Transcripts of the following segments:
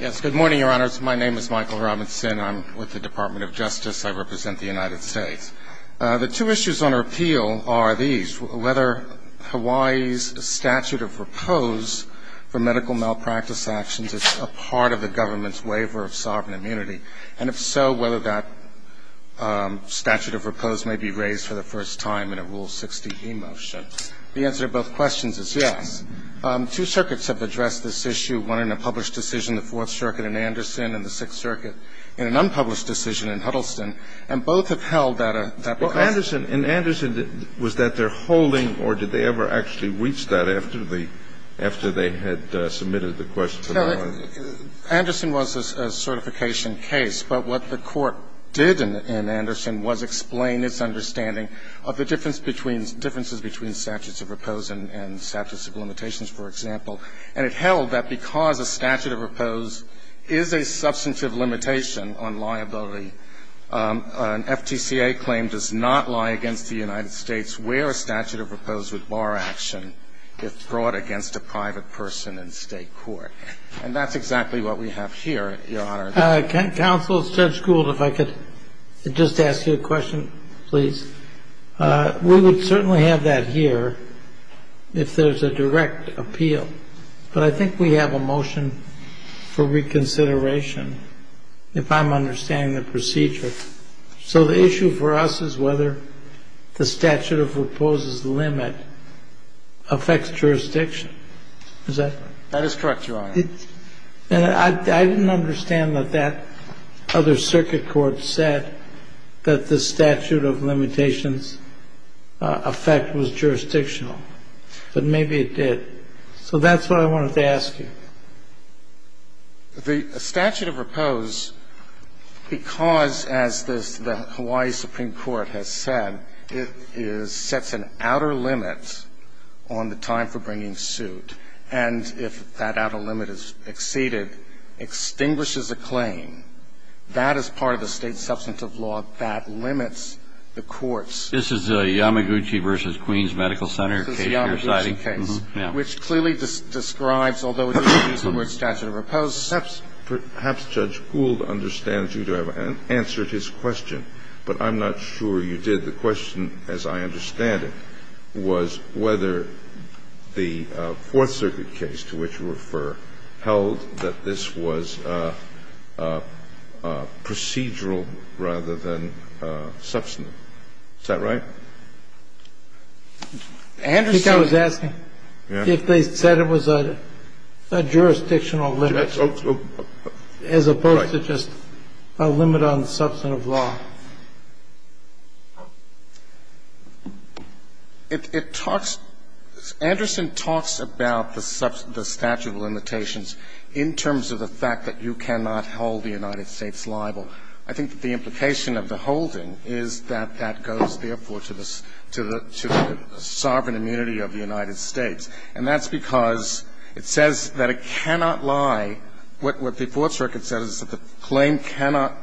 Yes, good morning, your honors. My name is Michael Robinson. I'm with the Department of Justice. I represent the United States. The two issues on our appeal are these, whether Hawaii's statute of repose for medical malpractice actions is a part of the government's waiver of sovereign immunity, and if so, whether that statute of repose may be raised for the first time in a Rule 60E motion. The answer to both questions is yes. Two circuits have addressed this issue, one in a published decision, the Fourth Circuit in Anderson and the Sixth Circuit in an unpublished decision in Huddleston, and both have held that a question. And Anderson, was that their holding, or did they ever actually reach that after they had submitted the question? Anderson was a certification case, but what the Court did in Anderson was explain its understanding of the difference between the differences between statutes of repose and statutes of limitations, for example. And it held that because a statute of repose is a substantive limitation on liability, an FTCA claim does not lie against the United States where a statute of repose would bar action if brought against a private person in State court. And that's exactly what we have here, your honor. Counsel, Judge Gould, if I could just ask you a question, please. We would certainly have that here if there's a direct appeal, but I think we have a motion for reconsideration if I'm understanding the procedure. So the issue for us is whether the statute of repose's limit affects jurisdiction. Is that right? That is correct, your honor. And I didn't understand that that other circuit court said that the statute of limitations effect was jurisdictional, but maybe it did. So that's what I wanted to ask you. The statute of repose, because, as the Hawaii Supreme Court has said, it sets an outer limit on the time for bringing suit. And if that outer limit is exceeded, extinguishes a claim. That is part of the State substantive law that limits the courts. This is the Yamaguchi v. Queens Medical Center case you're citing? This is the Yamaguchi case, which clearly describes, although it doesn't use the word statute of repose, the substantive law. Perhaps Judge Gould understands you to have answered his question, but I'm not sure you did. The question, as I understand it, was whether the Fourth Circuit case to which you refer held that this was procedural rather than substantive. Is that right? I think I was asking if they said it was a jurisdictional limit as opposed to just a limit on substantive law. It talks – Anderson talks about the statute of limitations in terms of the fact that you cannot hold the United States liable. I think that the implication of the holding is that that goes, therefore, to the sovereign immunity of the United States. And that's because it says that it cannot lie. What the Fourth Circuit says is that the claim cannot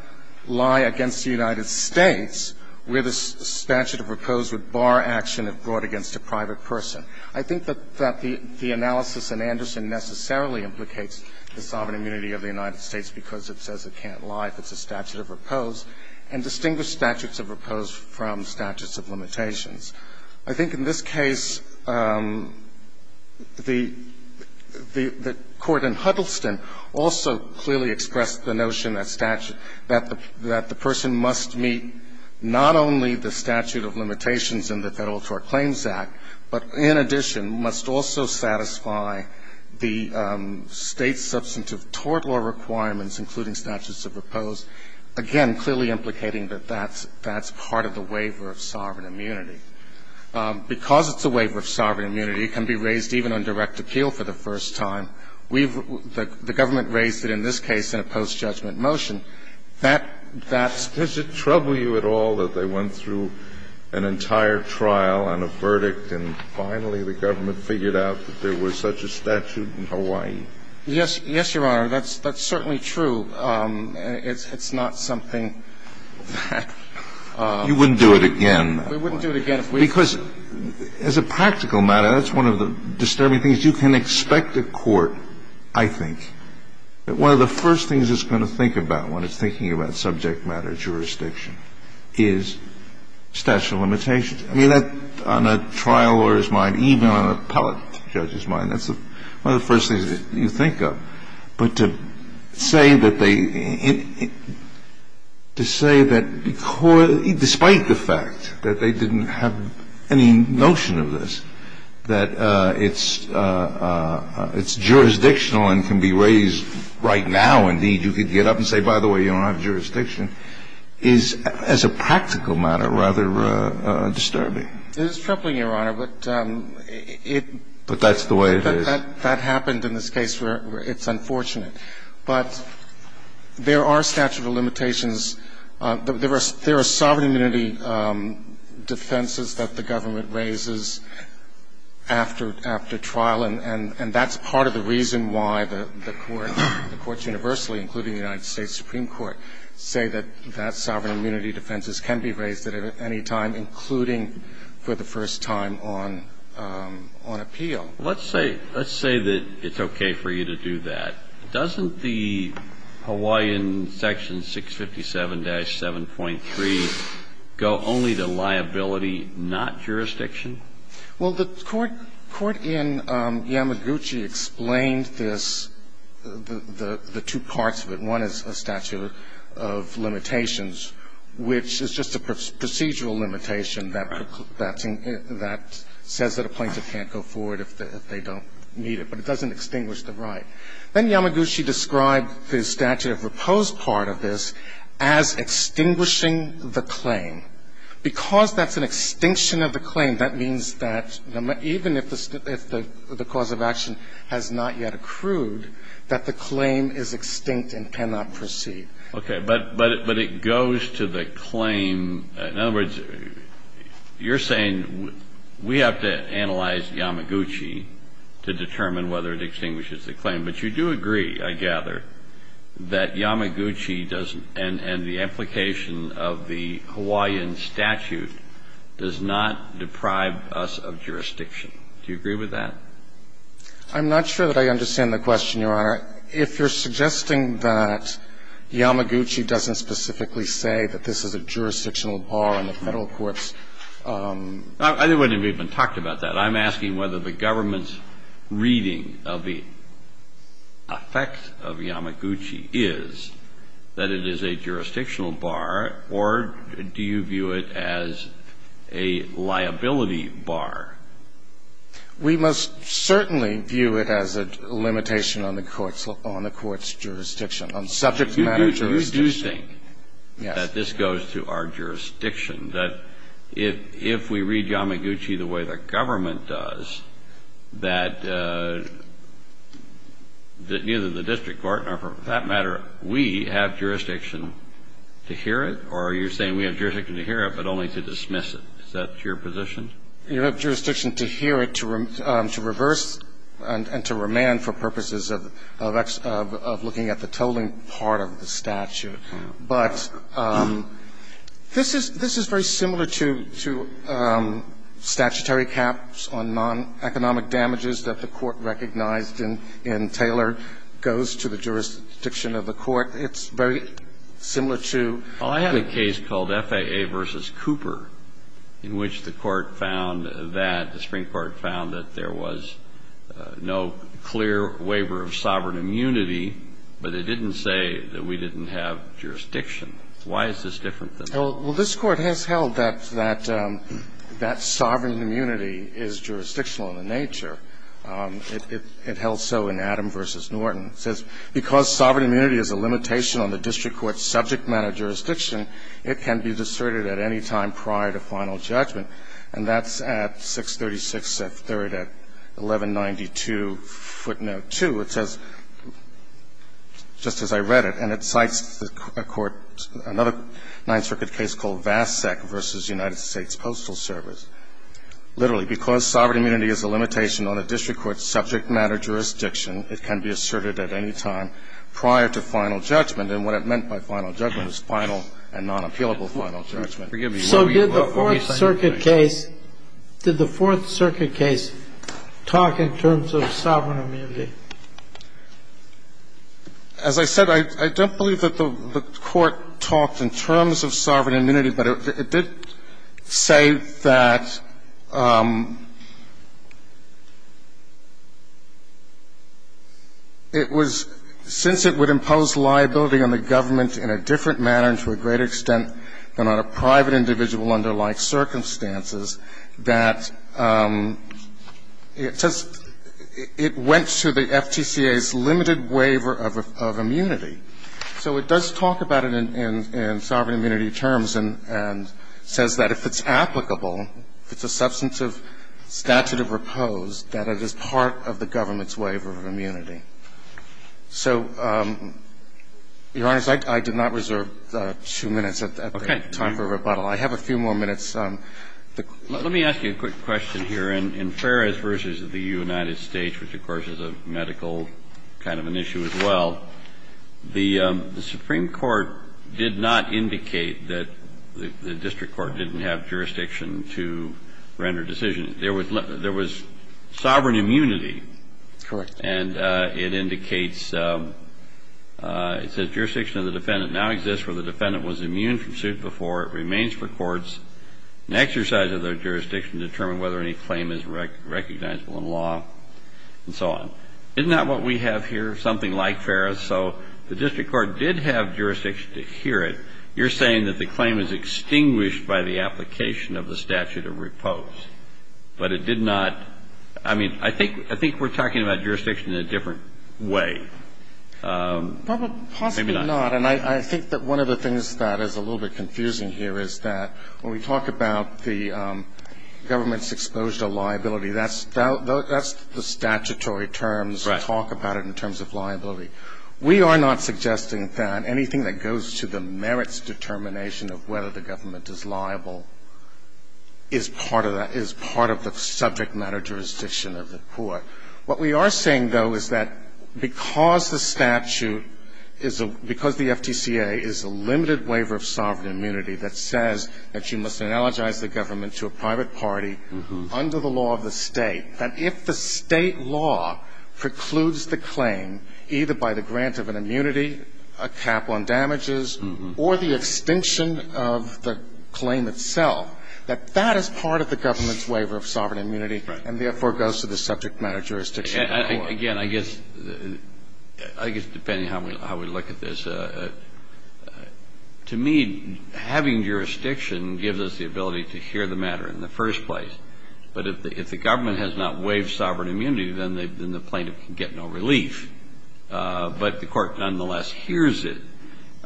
lie against the United States where the statute of repose would bar action if brought against a private person. I think that the analysis in Anderson necessarily implicates the sovereign immunity of the United States, because it says it can't lie if it's a statute of repose, and distinguished statutes of repose from statutes of limitations. I think in this case, the Court in Huddleston also clearly expressed the notion that statute – that the person must meet not only the statute of limitations in the Federal Tort Claims Act, but in addition, must also satisfy the State's substantive tort law requirements, including statutes of repose, again, clearly implicating that that's part of the waiver of sovereign immunity. Because it's a waiver of sovereign immunity, it can be raised even on direct appeal for the first time. We've – the Government raised it in this case in a post-judgment motion. That's – that's – Kennedy, does it trouble you at all that they went through an entire trial and a verdict, and finally the Government figured out that there was such a statute in Hawaii? Yes. Yes, Your Honor. That's certainly true. It's not something that – You wouldn't do it again. We wouldn't do it again if we could. Because as a practical matter, that's one of the disturbing things. You can expect a court, I think, that one of the first things it's going to think about when it's thinking about subject matter jurisdiction is statute of limitations. I mean, that – on a trial lawyer's mind, even on an appellate judge's mind, that's one of the first things that you think of. But to say that they – to say that – despite the fact that they didn't have any notion of this, that it's – it's jurisdictional and can be raised right now, indeed, you could get up and say, by the way, you don't have jurisdiction, is, as a practical matter, rather disturbing. It is troubling, Your Honor, but it – But that's the way it is. That happened in this case where it's unfortunate. But there are statute of limitations. There are sovereign immunity defenses that the government raises after – after trial, and that's part of the reason why the courts universally, including the United States Supreme Court, say that that sovereign immunity defense can be raised at any time, including for the first time on – on appeal. Let's say – let's say that it's okay for you to do that. Doesn't the Hawaiian section 657-7.3 go only to liability, not jurisdiction? Well, the court – court in Yamaguchi explained this, the two parts of it. One is a statute of limitations, which is just a procedural limitation that – that says that a plaintiff can't go forward if they don't meet it. But it doesn't extinguish the right. Then Yamaguchi described the statute of repose part of this as extinguishing the claim. Because that's an extinction of the claim, that means that even if the – if the cause of action has not yet accrued, that the claim is extinct and cannot proceed. Okay. But – but it goes to the claim. In other words, you're saying we have to analyze Yamaguchi to determine whether it extinguishes the claim. But you do agree, I gather, that Yamaguchi doesn't – and the implication of the Hawaiian statute does not deprive us of jurisdiction. Do you agree with that? I'm not sure that I understand the question, Your Honor. If you're suggesting that Yamaguchi doesn't specifically say that this is a jurisdictional bar and the Federal courts – I wouldn't have even talked about that. I'm asking whether the government's reading of the effect of Yamaguchi is that it is a jurisdictional bar, or do you view it as a liability bar? We must certainly view it as a limitation on the court's – on the court's jurisdiction, on subject matter jurisdiction. But you do think that this goes to our jurisdiction, that if we read Yamaguchi the way the government does, that neither the district court nor, for that matter, we have jurisdiction to hear it? Or are you saying we have jurisdiction to hear it, but only to dismiss it? Is that your position? You have jurisdiction to hear it, to reverse and to remand for purposes of looking at the tolling part of the statute. But this is very similar to statutory caps on non-economic damages that the court recognized in Taylor goes to the jurisdiction of the court. It's very similar to – Well, this Court has held that that sovereign immunity is jurisdictional in the nature. It held so in Adam v. Norton. It says, Because sovereign immunity is a limitation on the district court's subject matter jurisdiction, it can be discerned at any time by the district court. It can be discerned at any time by the district court. It can be asserted at any time prior to final judgment. And that's at 636 F. 3rd at 1192 footnote 2. It says, just as I read it, and it cites a court, another Ninth Circuit case called Vasek v. United States Postal Service. Literally, because sovereign immunity is a limitation on the district court's subject matter jurisdiction, it can be asserted at any time prior to final judgment. And what it meant by final judgment is final and non-appealable final judgment. So did the Fourth Circuit case – did the Fourth Circuit case talk in terms of sovereign immunity? As I said, I don't believe that the court talked in terms of sovereign immunity, but it did say that it was – since it would impose liability on the district court, it would impose liability on the government in a different manner and to a greater extent than on a private individual under like circumstances, that it says it went to the FTCA's limited waiver of immunity. So it does talk about it in sovereign immunity terms and says that if it's applicable, if it's a substantive statute of repose, that it is part of the government's limited waiver of immunity. So, Your Honor, I did not reserve two minutes at that time for rebuttal. I have a few more minutes. Let me ask you a quick question here. In Ferris v. the United States, which, of course, is a medical kind of an issue as well, the Supreme Court did not indicate that the district court didn't have jurisdiction to render decisions. There was sovereign immunity. Correct. And it indicates – it says jurisdiction of the defendant now exists where the defendant was immune from suit before. It remains for courts. An exercise of the jurisdiction to determine whether any claim is recognizable in law and so on. Isn't that what we have here, something like Ferris? So the district court did have jurisdiction to adhere it. You're saying that the claim is extinguished by the application of the statute of repose. But it did not – I mean, I think we're talking about jurisdiction in a different way. Maybe not. Possibly not. And I think that one of the things that is a little bit confusing here is that when we talk about the government's exposure to liability, that's the statutory terms that talk about it in terms of liability. We are not suggesting that anything that goes to the merits determination of whether the government is liable is part of that – is part of the subject matter jurisdiction of the court. What we are saying, though, is that because the statute is a – because the FTCA is a limited waiver of sovereign immunity that says that you must analogize the government to a private party under the law of the State, that if the State law precludes the claim, either by the grant of an immunity, a cap on damages, or the extinction of the claim itself, that that is part of the government's waiver of sovereign immunity and therefore goes to the subject matter jurisdiction of the court. Again, I guess – I guess depending on how we look at this, to me, having jurisdiction gives us the ability to hear the matter in the first place. But if the government has not waived sovereign immunity, then the plaintiff can get no relief. But the Court nonetheless hears it. And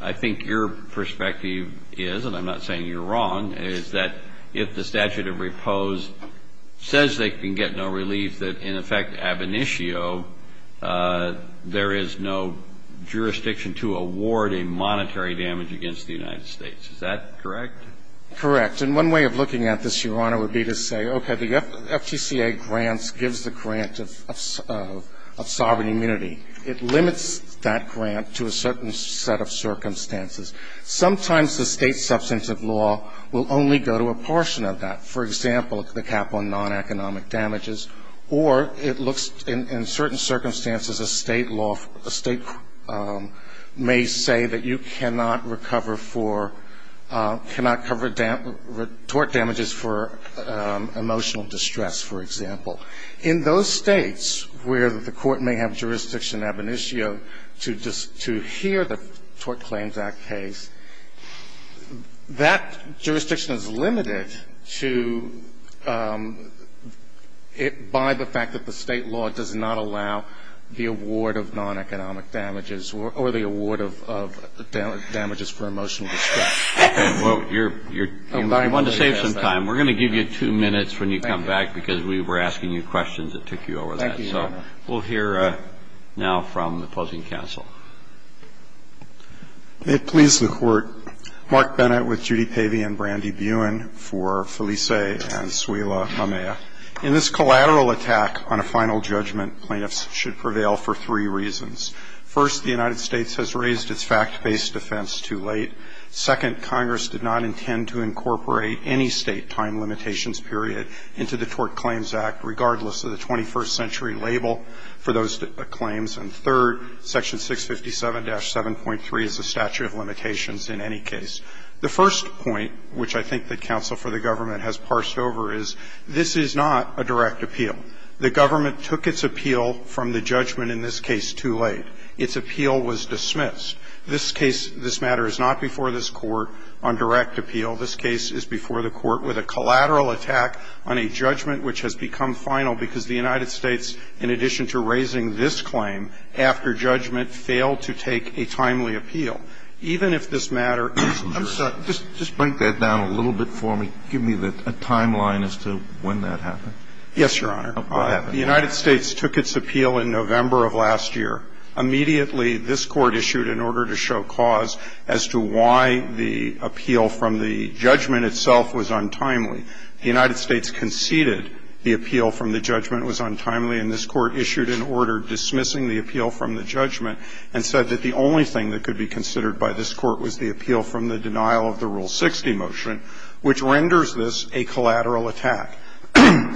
I think your perspective is, and I'm not saying you're wrong, is that if the statute of repose says they can get no relief, that in effect ab initio there is no jurisdiction to award a monetary damage against the United States. Is that correct? Correct. And one way of looking at this, Your Honor, would be to say, okay, the FTCA grants gives the grant of sovereign immunity. It limits that grant to a certain set of circumstances. Sometimes the State substantive law will only go to a portion of that. For example, the cap on non-economic damages. Or it looks in certain circumstances, a State law – a State may say that you cannot recover for – cannot cover tort damages for emotional distress, for example. In those States where the Court may have jurisdiction ab initio to hear the Tort Claims Act case, that jurisdiction is limited to – by the fact that the State law does not allow the award of non-economic damages or the award of damages for emotional distress. Well, you're – you wanted to save some time. We're going to give you two minutes when you come back, because we were asking you questions that took you over that. Thank you, Your Honor. So we'll hear now from the closing counsel. May it please the Court. Mark Bennett with Judy Pavey and Brandy Buin for Felice and Suila Mamea. In this collateral attack on a final judgment, plaintiffs should prevail for three reasons. First, the United States has raised its fact-based defense too late. Second, Congress did not intend to incorporate any State time limitations period into the Tort Claims Act, regardless of the 21st century label for those claims. And third, Section 657-7.3 is a statute of limitations in any case. The first point, which I think the counsel for the government has parsed over, is this is not a direct appeal. The government took its appeal from the judgment in this case too late. Its appeal was dismissed. This case, this matter, is not before this Court on direct appeal. This case is before the Court with a collateral attack on a judgment which has become final because the United States, in addition to raising this claim after judgment, failed to take a timely appeal. Even if this matter isn't direct. I'm sorry. Just break that down a little bit for me. Give me a timeline as to when that happened. Yes, Your Honor. The United States took its appeal in November of last year. Immediately this Court issued an order to show cause as to why the appeal from the judgment itself was untimely. The United States conceded the appeal from the judgment was untimely, and this Court issued an order dismissing the appeal from the judgment and said that the only thing that could be considered by this Court was the appeal from the denial of the Rule 60 motion, which renders this a collateral attack.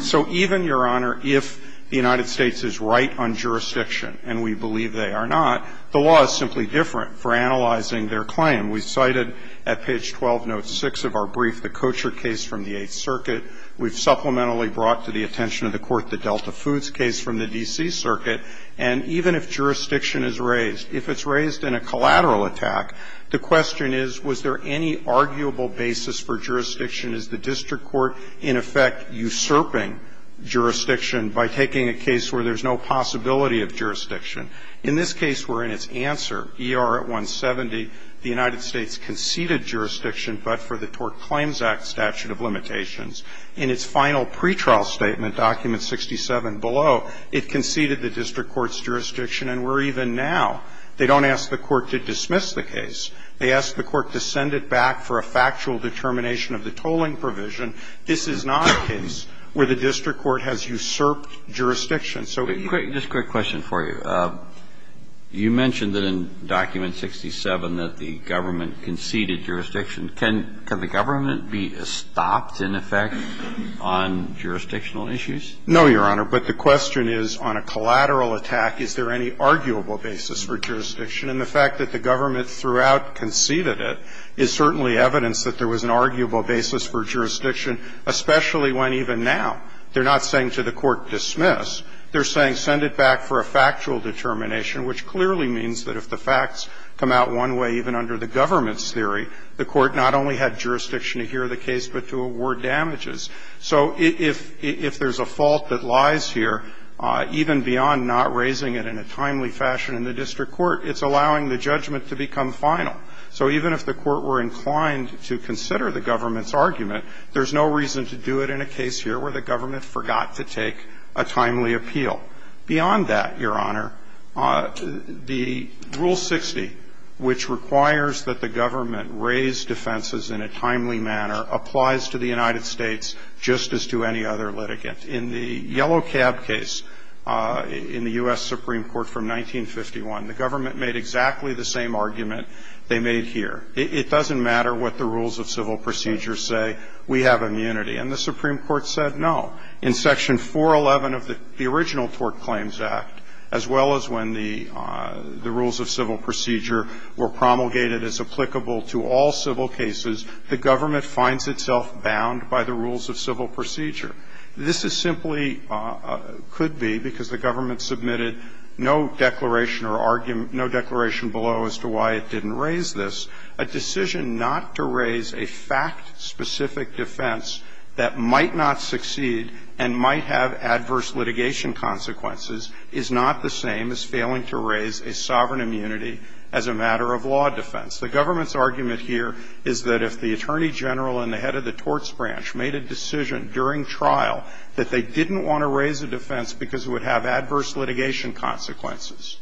So even, Your Honor, if the United States is right on jurisdiction, and we believe they are not, the law is simply different for analyzing their claim. We cited at page 12, note 6 of our brief, the Kocher case from the Eighth Circuit. We've supplementally brought to the attention of the Court the Delta Foods case from the D.C. Circuit. And even if jurisdiction is raised, if it's raised in a collateral attack, the question is, was there any arguable basis for jurisdiction? Is the district court in effect usurping jurisdiction by taking a case where there's no possibility of jurisdiction? In this case, we're in its answer. E.R. at 170, the United States conceded jurisdiction but for the Tort Claims Act statute of limitations. In its final pretrial statement, document 67 below, it conceded the district court's jurisdiction, and we're even now. They don't ask the court to dismiss the case. They ask the court to send it back for a factual determination of the tolling provision. This is not a case where the district court has usurped jurisdiction. So it can't be. Just a quick question for you. You mentioned that in document 67 that the government conceded jurisdiction. Can the government be stopped, in effect, on jurisdictional issues? No, Your Honor. But the question is, on a collateral attack, is there any arguable basis for jurisdiction? And the fact that the government throughout conceded it is certainly evidence that there was an arguable basis for jurisdiction, especially when, even now, they're not saying to the court, dismiss. They're saying send it back for a factual determination, which clearly means that if the facts come out one way even under the government's theory, the court not only had jurisdiction to hear the case but to award damages. So if there's a fault that lies here, even beyond not raising it in a timely fashion in the district court, it's allowing the judgment to become final. So even if the court were inclined to consider the government's argument, there's no reason to do it in a case here where the government forgot to take a timely appeal. Beyond that, Your Honor, the Rule 60, which requires that the government raise defenses in a timely manner, applies to the United States just as to any other litigant. In the Yellow Cab case in the U.S. Supreme Court from 1951, the government made exactly the same argument they made here. It doesn't matter what the rules of civil procedure say. We have immunity. And the Supreme Court said no. In Section 411 of the original Tort Claims Act, as well as when the rules of civil procedure were promulgated as applicable to all civil cases, the government finds itself bound by the rules of civil procedure. This is simply could be because the government submitted no declaration or argument no declaration below as to why it didn't raise this. A decision not to raise a fact-specific defense that might not succeed and might have adverse litigation consequences is not the same as failing to raise a sovereign immunity as a matter of law defense. The government's argument here is that if the Attorney General and the head of the didn't want to raise a defense because it would have adverse litigation consequences,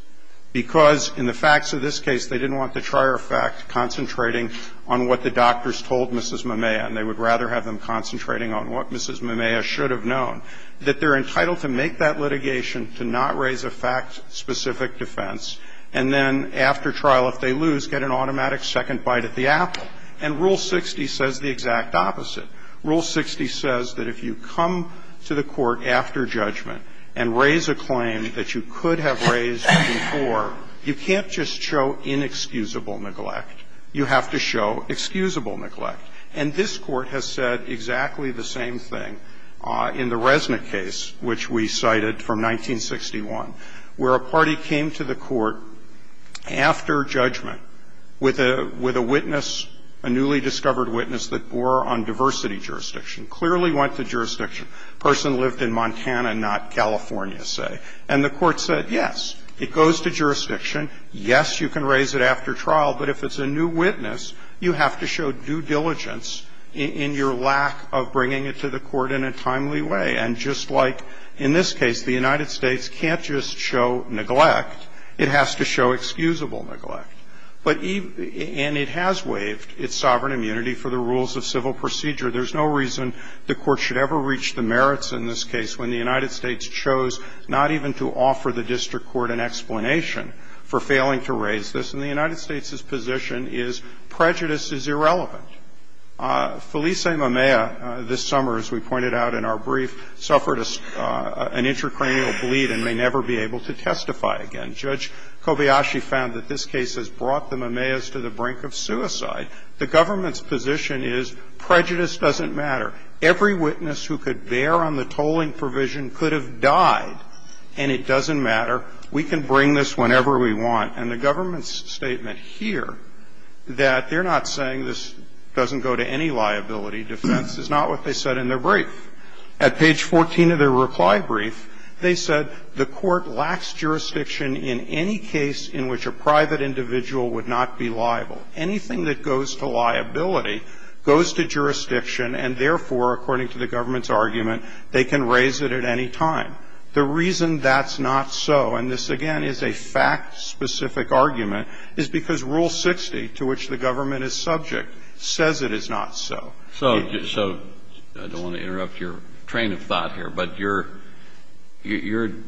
because in the facts of this case, they didn't want the trier fact concentrating on what the doctors told Mrs. Mamea, and they would rather have them concentrating on what Mrs. Mamea should have known, that they're entitled to make that litigation to not raise a fact-specific defense, and then after trial, if they lose, get an automatic second bite at the apple. And Rule 60 says the exact opposite. Rule 60 says that if you come to the court after judgment and raise a claim that you could have raised before, you can't just show inexcusable neglect. You have to show excusable neglect. And this Court has said exactly the same thing in the Resnick case, which we cited from 1961, where a party came to the court after judgment with a witness, a newly sworn witness, a person who lived in a city jurisdiction, clearly went to jurisdiction, person lived in Montana, not California, say. And the Court said, yes, it goes to jurisdiction. Yes, you can raise it after trial, but if it's a new witness, you have to show due diligence in your lack of bringing it to the court in a timely way. And just like in this case, the United States can't just show neglect. It has to show excusable neglect. But even – and it has waived its sovereign immunity for the rules of civil procedure. There's no reason the Court should ever reach the merits in this case when the United States chose not even to offer the district court an explanation for failing to raise this. And the United States's position is prejudice is irrelevant. Felice Mamea, this summer, as we pointed out in our brief, suffered an intracranial bleed and may never be able to testify again. Judge Kobayashi found that this case has brought the Mameas to the brink of suicide. The government's position is prejudice doesn't matter. Every witness who could bear on the tolling provision could have died, and it doesn't matter. We can bring this whenever we want. And the government's statement here that they're not saying this doesn't go to any liability defense is not what they said in their brief. At page 14 of their reply brief, they said the Court lacks jurisdiction in any case in which a private individual would not be liable. Anything that goes to liability goes to jurisdiction, and therefore, according to the government's argument, they can raise it at any time. The reason that's not so, and this, again, is a fact-specific argument, is because Rule 60, to which the government is subject, says it is not so. So I don't want to interrupt your train of thought here, but you're,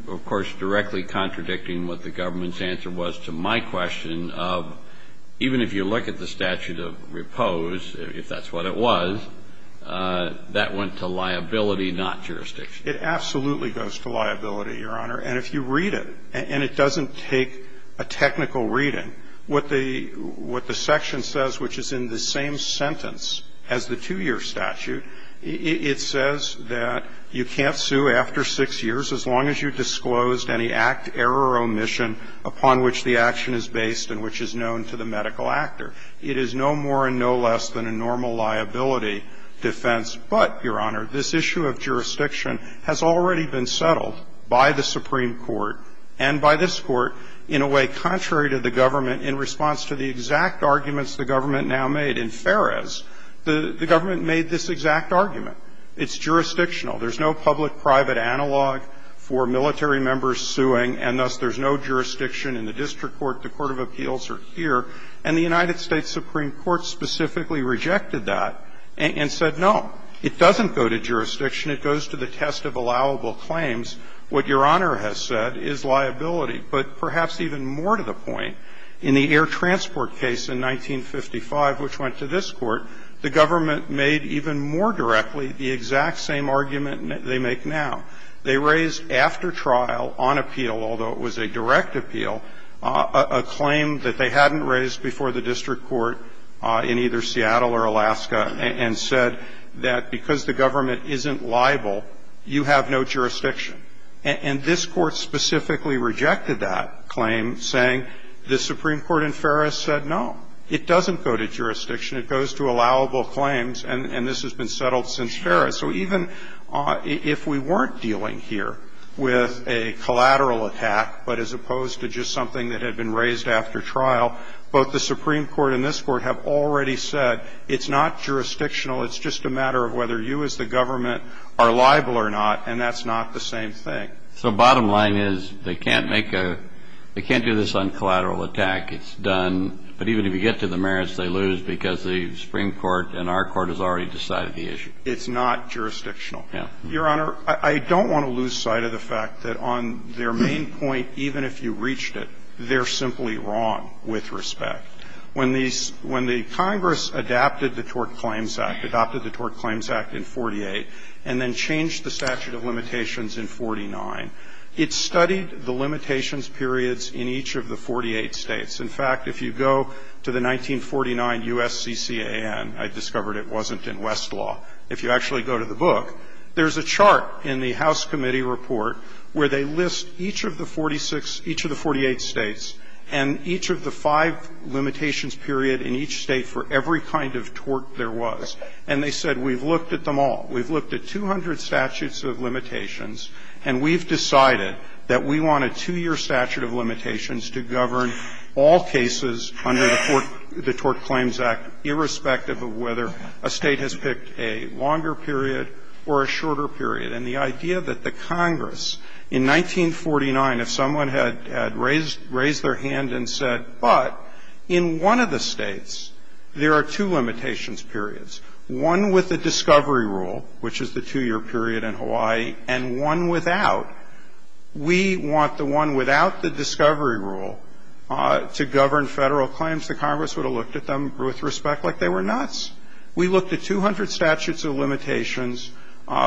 of course, directly contradicting what the government's answer was to my question of, even if you look at the statute of repose, if that's what it was, that went to liability, not jurisdiction. It absolutely goes to liability, Your Honor. And if you read it, and it doesn't take a technical reading, what the section says, which is in the same sentence as the 2-year statute, it says that you can't sue after 6 years as long as you've disclosed any act, error, or omission upon which the action is based and which is known to the medical actor. It is no more and no less than a normal liability defense. But, Your Honor, this issue of jurisdiction has already been settled by the Supreme Court and by this Court in a way contrary to the government in response to the exact arguments the government now made. In Feres, the government made this exact argument. It's jurisdictional. There's no public-private analog for military members suing, and thus there's no jurisdiction in the district court. The court of appeals are here. And the United States Supreme Court specifically rejected that and said, no, it doesn't go to jurisdiction. It goes to the test of allowable claims. What Your Honor has said is liability. But perhaps even more to the point, in the air transport case in 1955, which went to this Court, the government made even more directly the exact same argument they make now. They raised after trial on appeal, although it was a direct appeal, a claim that they hadn't raised before the district court in either Seattle or Alaska and said that because the government isn't liable, you have no jurisdiction. And this Court specifically rejected that claim, saying the Supreme Court in Feres said, no, it doesn't go to jurisdiction. It goes to allowable claims, and this has been settled since Feres. So even if we weren't dealing here with a collateral attack, but as opposed to just something that had been raised after trial, both the Supreme Court and this Court have already said it's not jurisdictional. It's just a matter of whether you as the government are liable or not, and that's not the same thing. So bottom line is they can't make a — they can't do this on collateral attack. It's done. But even if you get to the merits, they lose because the Supreme Court and our Court has already decided the issue. It's not jurisdictional. Yeah. Your Honor, I don't want to lose sight of the fact that on their main point, even if you reached it, they're simply wrong with respect. When these — when the Congress adapted the Tort Claims Act, adopted the Tort Claims Act in 1948, and then changed the statute of limitations in 1949, it studied the limitations periods in each of the 48 states. In fact, if you go to the 1949 U.S. CCAN, I discovered it wasn't in Westlaw. If you actually go to the book, there's a chart in the House Committee Report where they list each of the 46 — each of the 48 states and each of the five limitations period in each state for every kind of tort there was. And they said, we've looked at them all. We've looked at 200 statutes of limitations, and we've decided that we want a 2-year statute of limitations to govern all cases under the Tort Claims Act, irrespective of whether a State has picked a longer period or a shorter period. And the idea that the Congress, in 1949, if someone had raised their hand and said, but in one of the States, there are two limitations periods, one with the discovery rule, which is the 2-year period in Hawaii, and one without, we want the one without the discovery rule to govern Federal claims, the Congress would have looked at them with respect like they were nuts. We looked at 200 statutes of limitations.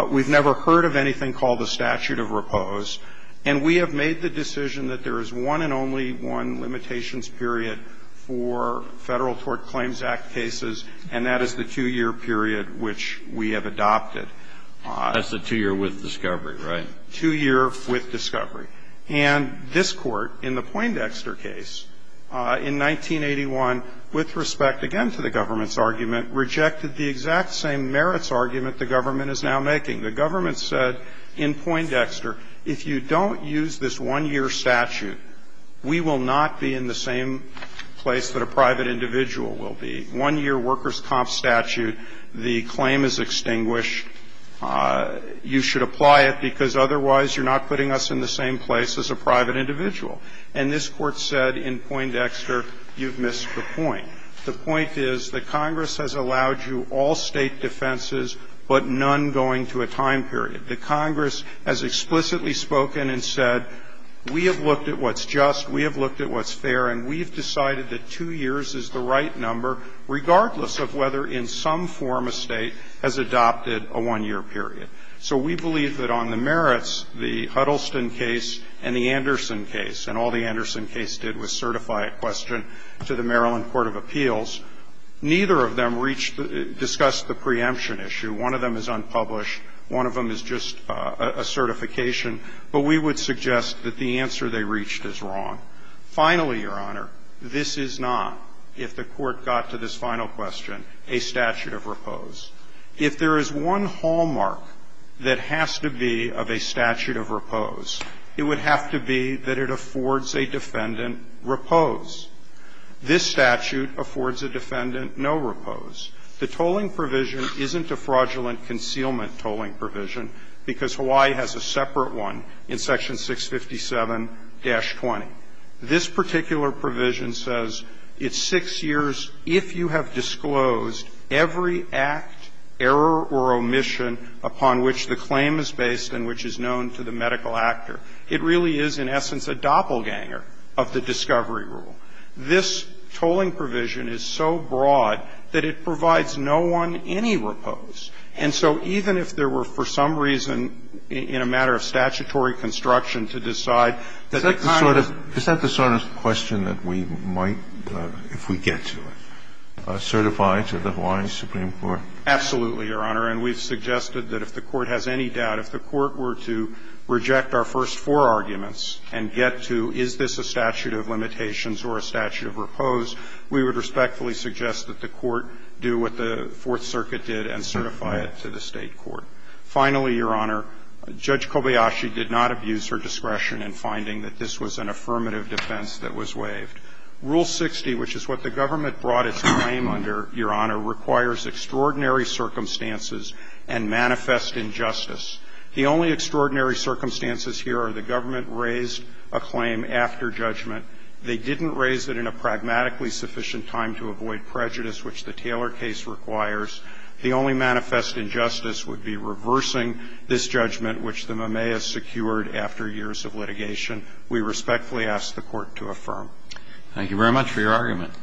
We've never heard of anything called the statute of repose. And we have made the decision that there is one and only one limitations period for Federal Tort Claims Act cases, and that is the 2-year period which we have adopted. That's the 2-year with discovery, right? 2-year with discovery. And this Court, in the Poindexter case in 1981, with respect, again, to the government's argument, rejected the exact same merits argument the government is now making. The government said in Poindexter, if you don't use this 1-year statute, we will not be in the same place that a private individual will be. 1-year workers' comp statute, the claim is extinguished. You should apply it because otherwise you're not putting us in the same place as a private individual. And this Court said in Poindexter, you've missed the point. The point is that Congress has allowed you all State defenses, but none going to a time period. The Congress has explicitly spoken and said, we have looked at what's just, we have looked at what's fair, and we've decided that 2 years is the right number, regardless of whether in some form a State has adopted a 1-year period. So we believe that on the merits, the Huddleston case and the Anderson case, and all the other appeals, neither of them reached, discussed the preemption issue. One of them is unpublished. One of them is just a certification. But we would suggest that the answer they reached is wrong. Finally, Your Honor, this is not, if the Court got to this final question, a statute of repose. If there is one hallmark that has to be of a statute of repose, it would have to be that it affords a defendant repose. This statute affords a defendant no repose. The tolling provision isn't a fraudulent concealment tolling provision, because Hawaii has a separate one in Section 657-20. This particular provision says it's 6 years if you have disclosed every act, error or omission upon which the claim is based and which is known to the medical actor. It really is, in essence, a doppelganger of the discovery rule. This tolling provision is so broad that it provides no one any repose. And so even if there were for some reason in a matter of statutory construction to decide that the conduct. Kennedy, is that the sort of question that we might, if we get to it, certify to the Hawaiian Supreme Court? Absolutely, Your Honor. And we've suggested that if the Court has any doubt, if the Court were to reject our first four arguments and get to, is this a statute of limitations or a statute of repose, we would respectfully suggest that the Court do what the Fourth Circuit did and certify it to the State court. Finally, Your Honor, Judge Kobayashi did not abuse her discretion in finding that this was an affirmative defense that was waived. Rule 60, which is what the government brought its claim under, Your Honor, requires extraordinary circumstances and manifest injustice. The only extraordinary circumstances here are the government raised a claim after judgment. They didn't raise it in a pragmatically sufficient time to avoid prejudice, which the Taylor case requires. The only manifest injustice would be reversing this judgment, which the Mameas secured after years of litigation. We respectfully ask the Court to affirm. Thank you very much for your argument.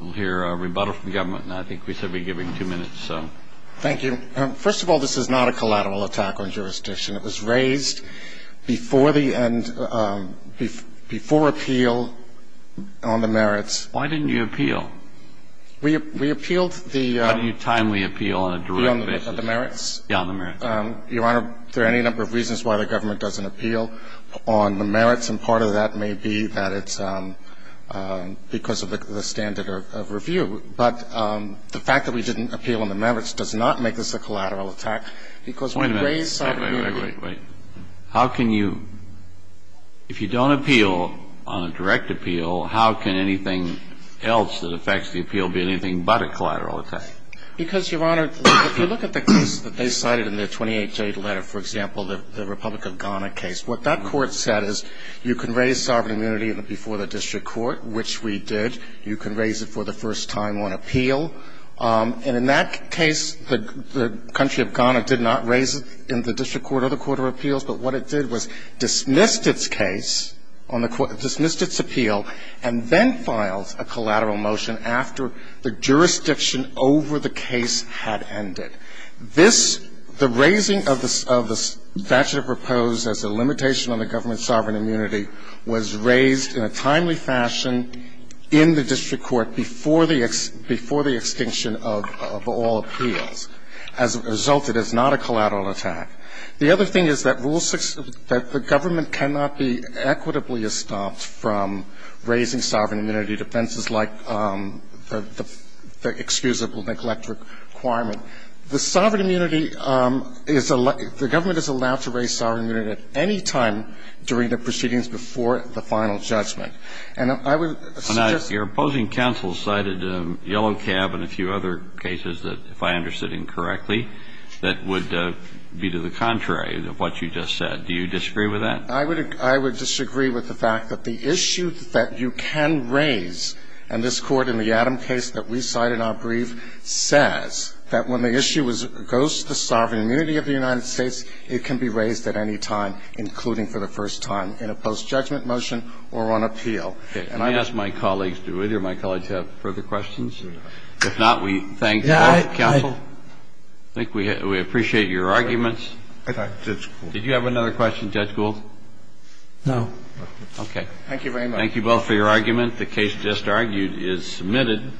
We'll hear a rebuttal from the government, and I think we should be giving two minutes, so. Thank you. First of all, this is not a collateral attack on jurisdiction. It was raised before the end, before appeal on the merits. Why didn't you appeal? We appealed the merits. Your Honor, there are any number of reasons why the government doesn't appeal on the merits, and part of that may be that it's because of the standard of review. But the fact that we didn't appeal on the merits does not make this a collateral attack, because we raised sovereign immunity. Wait, wait, wait. How can you, if you don't appeal on a direct appeal, how can anything else that affects the appeal be anything but a collateral attack? Because, Your Honor, if you look at the case that they cited in their 28-J letter, for example, the Republic of Ghana case, what that court said is, you can raise sovereign immunity before the district court, which we did. You can raise it for the first time on appeal. And in that case, the country of Ghana did not raise it in the district court or the court of appeals, but what it did was dismissed its case, dismissed its appeal, and then filed a collateral motion after the jurisdiction over the case had ended. This, the raising of the statute proposed as a limitation on the government's The other thing is that rule six, that the government cannot be equitably estomped from raising sovereign immunity defenses like the excusable neglect requirement. The sovereign immunity is allowed, the government is allowed to raise sovereign immunity at any time during the proceedings before the final judgment. And I would suggest- The proposing counsel cited Yellow Cab and a few other cases that, if I understood incorrectly, that would be to the contrary of what you just said. Do you disagree with that? I would disagree with the fact that the issue that you can raise, and this Court in the Adam case that we cited on brief, says that when the issue goes to the sovereign immunity of the United States, it can be raised at any time, including for the first time in a post-judgment motion or on appeal. And I'd ask my colleagues to do it. Do my colleagues have further questions? If not, we thank the counsel. I think we appreciate your arguments. Did you have another question, Judge Gould? No. Okay. Thank you very much. Thank you both for your argument. The case just argued is submitted.